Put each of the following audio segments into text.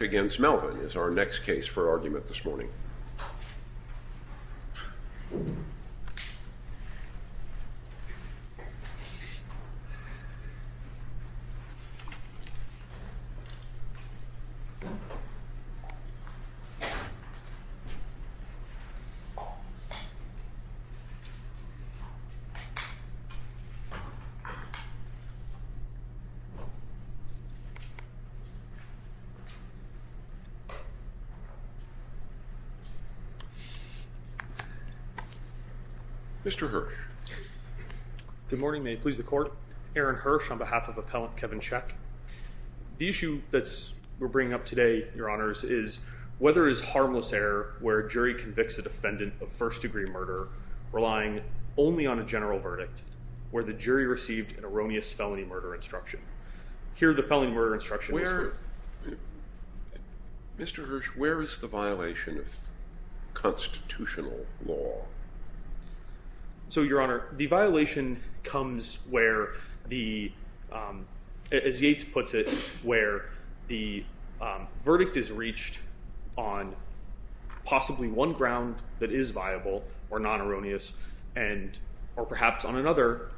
against Melvin is our next case for argument this morning. Mr. Hirsch. Good morning. May it please the court. Aaron Hirsch on behalf of appellant Kevin Czech. The issue that we're bringing up today, your honors, is whether it is harmless error where a jury convicts a defendant of first degree murder, relying only on a general verdict, where the jury received an erroneous felony murder instruction. Mr. Hirsch, where is the violation of constitutional law? So, your honor, the violation comes where the, as Yates puts it, where the verdict is reached on possibly one ground that is viable or non-erroneous, or perhaps on another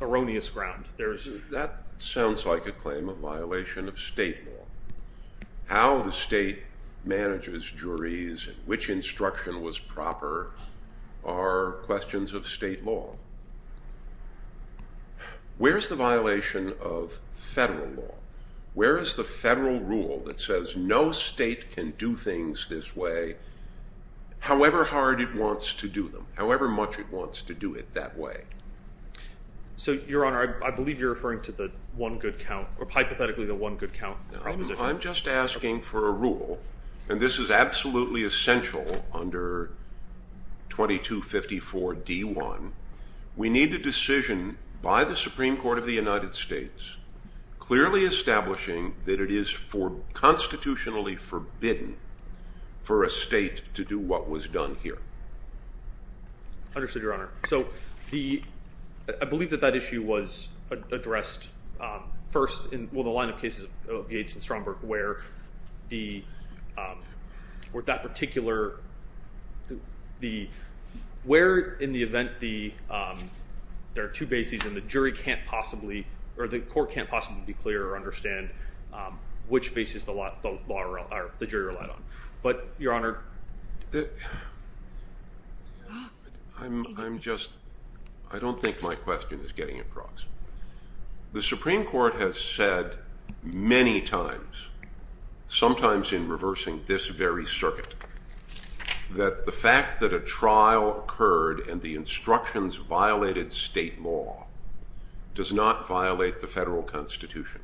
erroneous ground. That sounds like a claim of violation of state law. How the state manages juries and which instruction was proper are questions of state law. Where is the violation of federal law? Where is the federal rule that says no state can do things this way, however hard it wants to do them, however much it wants to do it that way? So, your honor, I believe you're referring to the one good count, or hypothetically the one good count proposition. I'm just asking for a rule, and this is absolutely essential under 2254 D1. We need a decision by the Supreme Court of the United States clearly establishing that it is constitutionally forbidden for a state to do what was done here. Understood, your honor. So, I believe that that issue was addressed first in the line of cases of Yates and Stromberg where that particular, where in the event there are two bases and the jury can't possibly, or the court can't possibly be clear or understand which bases the jury relied on. But, your honor. I'm just, I don't think my question is getting across. The Supreme Court has said many times, sometimes in reversing this very circuit, that the fact that a trial occurred and the instructions violated state law does not violate the federal constitution.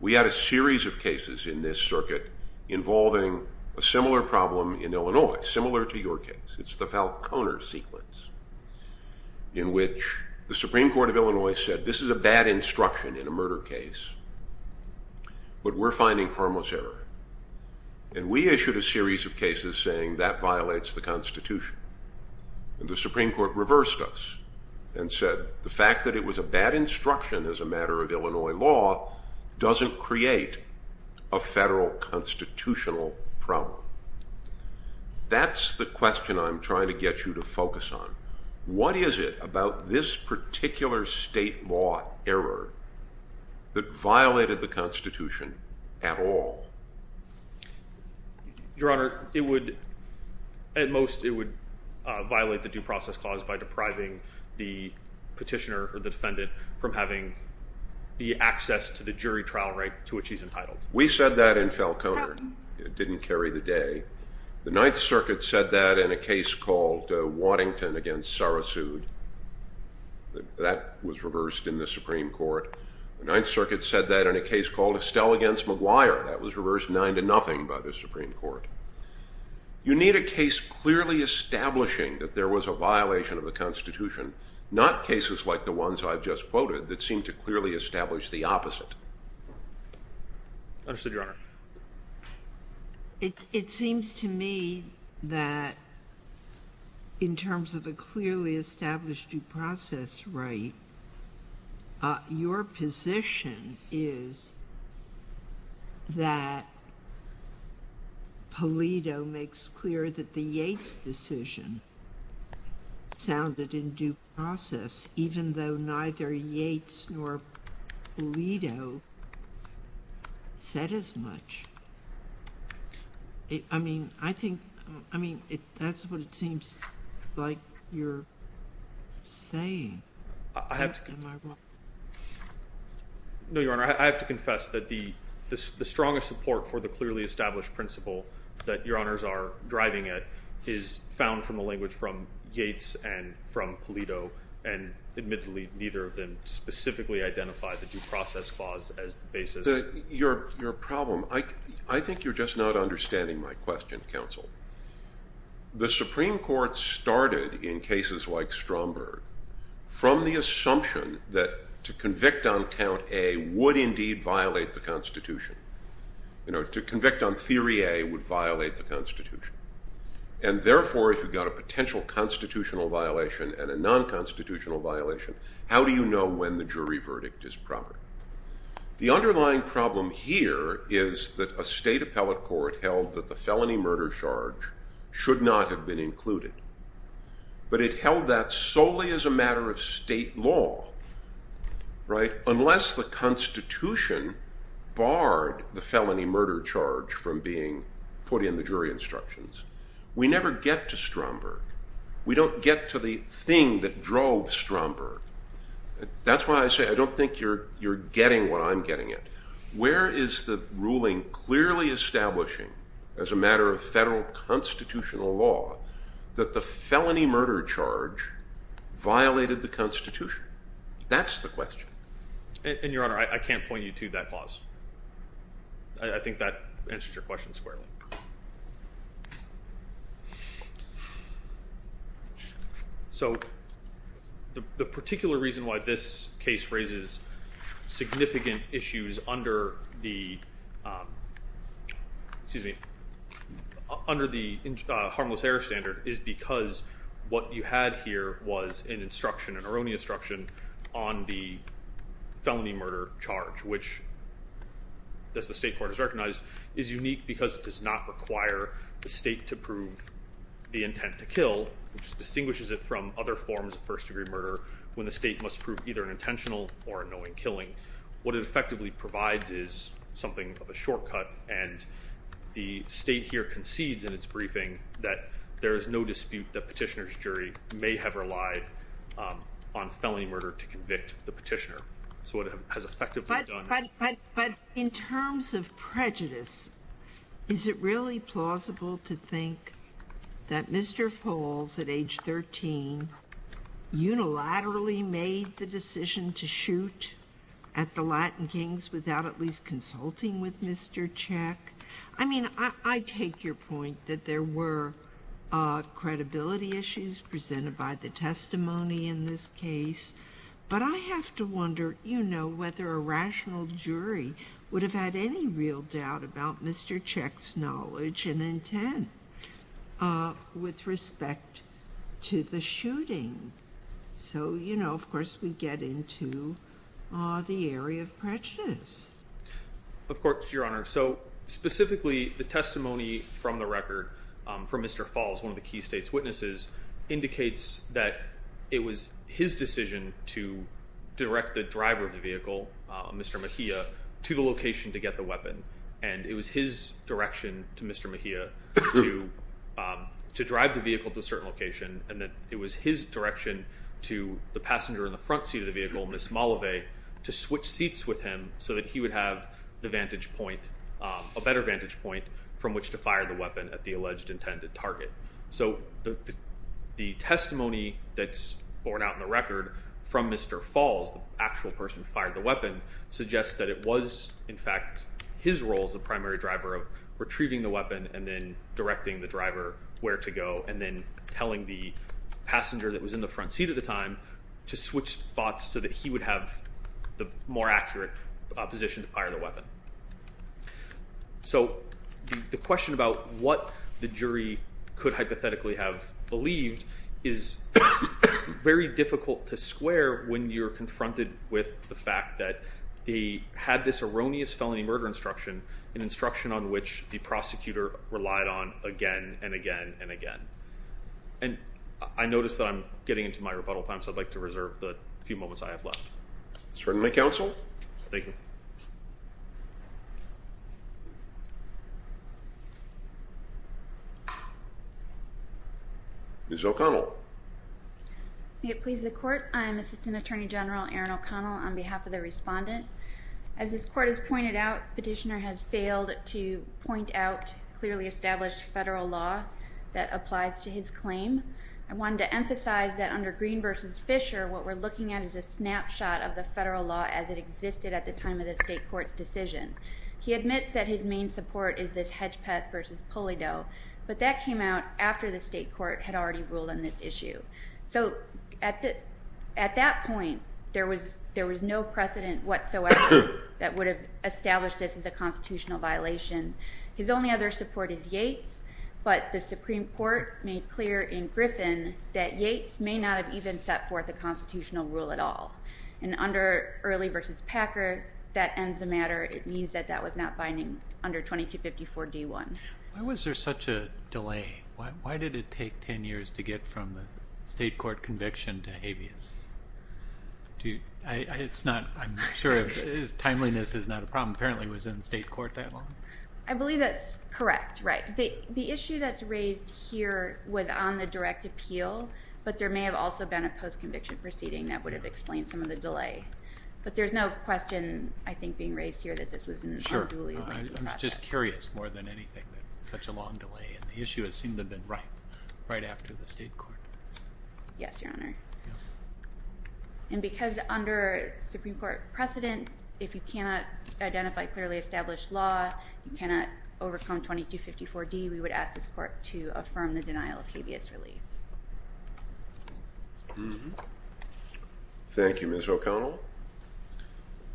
We had a series of cases in this circuit involving a similar problem in Illinois, similar to your case. It's the Falconer sequence in which the Supreme Court of Illinois said this is a bad instruction in a murder case, but we're finding harmless error. And we issued a series of cases saying that violates the constitution. The Supreme Court reversed us and said the fact that it was a bad instruction as a matter of Illinois law doesn't create a federal constitutional problem. That's the question I'm trying to get you to focus on. What is it about this particular state law error that violated the constitution at all? Your honor, it would, at most, it would violate the due process clause by depriving the petitioner or the defendant from having the access to the jury trial right to which he's entitled. We said that in Falconer. It didn't carry the day. The Ninth Circuit said that in a case called Waddington against Sarasoud. That was reversed in the Supreme Court. The Ninth Circuit said that in a case called Estelle against McGuire. That was reversed nine to nothing by the Supreme Court. You need a case clearly establishing that there was a violation of the constitution, not cases like the ones I've just quoted that seem to clearly establish the opposite. Understood, your honor. It seems to me that in terms of a clearly established due process right, your position is that Polito makes clear that the Yates decision sounded in due process, even though neither Yates nor Polito said as much. I mean, I think, I mean, that's what it seems like you're saying. No, your honor, I have to confess that the strongest support for the clearly established principle that your honors are driving at is found from the language from Yates and from Polito. And admittedly, neither of them specifically identified the due process clause as the basis. Your problem, I think you're just not understanding my question, counsel. The Supreme Court started in cases like Stromberg from the assumption that to convict on count A would indeed violate the constitution. You know, to convict on theory A would violate the constitution. And therefore, if you've got a potential constitutional violation and a non-constitutional violation, how do you know when the jury verdict is proper? The underlying problem here is that a state appellate court held that the felony murder charge should not have been included. But it held that solely as a matter of state law, right, unless the constitution barred the felony murder charge from being put in the jury instructions. We never get to Stromberg. We don't get to the thing that drove Stromberg. That's why I say I don't think you're getting what I'm getting at. Where is the ruling clearly establishing as a matter of federal constitutional law that the felony murder charge violated the constitution? That's the question. And your honor, I can't point you to that clause. I think that answers your question squarely. So the particular reason why this case raises significant issues under the, excuse me, under the harmless error standard is because what you had here was an instruction, an erroneous instruction on the felony murder charge, which, as the state court has recognized, is unique because it does not require the state to prove the intent to kill, which distinguishes it from other forms of first degree murder when the state must prove either an intentional or a knowing killing. What it effectively provides is something of a shortcut, and the state here concedes in its briefing that there is no dispute that petitioner's jury may have relied on felony murder to convict the petitioner. But in terms of prejudice, is it really plausible to think that Mr. Falls, at age 13, unilaterally made the decision to shoot at the Latin Kings without at least consulting with Mr. Check? I mean, I take your point that there were credibility issues presented by the testimony in this case. But I have to wonder, you know, whether a rational jury would have had any real doubt about Mr. Check's knowledge and intent with respect to the shooting. So, you know, of course, we get into the area of prejudice. Of course, Your Honor. So specifically, the testimony from the record from Mr. Falls, one of the key state's witnesses, indicates that it was his decision to direct the driver of the vehicle, Mr. Mahia, to the location to get the weapon. And it was his direction to Mr. Mahia to drive the vehicle to a certain location. And it was his direction to the passenger in the front seat of the vehicle, Ms. Malave, to switch seats with him so that he would have the vantage point, a better vantage point from which to fire the weapon at the alleged intended target. So the testimony that's borne out in the record from Mr. Falls, the actual person who fired the weapon, suggests that it was, in fact, his role as the primary driver of retrieving the weapon and then directing the driver where to go and then telling the passenger that was in the front seat at the time to switch spots so that he would have the more accurate position to fire the weapon. So the question about what the jury could hypothetically have believed is very difficult to square when you're confronted with the fact that they had this erroneous felony murder instruction, an instruction on which the prosecutor relied on again and again and again. And I notice that I'm getting into my rebuttal time, so I'd like to reserve the few moments I have left. Certainly, counsel. Thank you. Ms. O'Connell. May it please the court. I am Assistant Attorney General Erin O'Connell on behalf of the respondent. As this court has pointed out, the petitioner has failed to point out clearly established federal law that applies to his claim. I wanted to emphasize that under Green v. Fisher, what we're looking at is a snapshot of the federal law as it existed at the time of the state court's decision. He admits that his main support is this hedge pest v. pulley doe, but that came out after the state court had already ruled on this issue. So at that point, there was no precedent whatsoever that would have established this as a constitutional violation. His only other support is Yates, but the Supreme Court made clear in Griffin that Yates may not have even set forth a constitutional rule at all. And under Early v. Packer, that ends the matter. It means that that was not binding under 2254d-1. Why was there such a delay? Why did it take 10 years to get from the state court conviction to habeas? I'm not sure if timeliness is not a problem. Apparently it was in state court that long. I believe that's correct. The issue that's raised here was on the direct appeal, but there may have also been a post-conviction proceeding that would have explained some of the delay. But there's no question, I think, being raised here that this was an unduly lengthy process. I'm just curious, more than anything, that it's such a long delay, and the issue has seemed to have been right right after the state court. Yes, Your Honor. And because under Supreme Court precedent, if you cannot identify clearly established law, you cannot overcome 2254d, we would ask this court to affirm the denial of habeas relief. Thank you, Ms. O'Connell.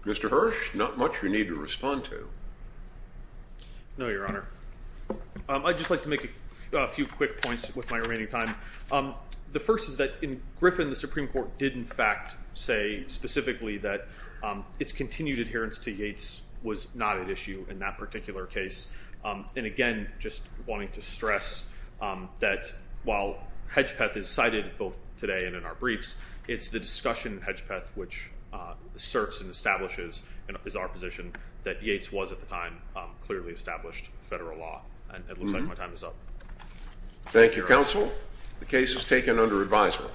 Mr. Hirsch, not much we need to respond to. No, Your Honor. I'd just like to make a few quick points with my remaining time. The first is that in Griffin, the Supreme Court did, in fact, say specifically that its continued adherence to Yates was not at issue in that particular case. And again, just wanting to stress that while Hedgepeth is cited both today and in our briefs, it's the discussion in Hedgepeth which asserts and establishes our position that Yates was, at the time, clearly established federal law. And it looks like my time is up. Thank you, counsel. The case is taken under advisement.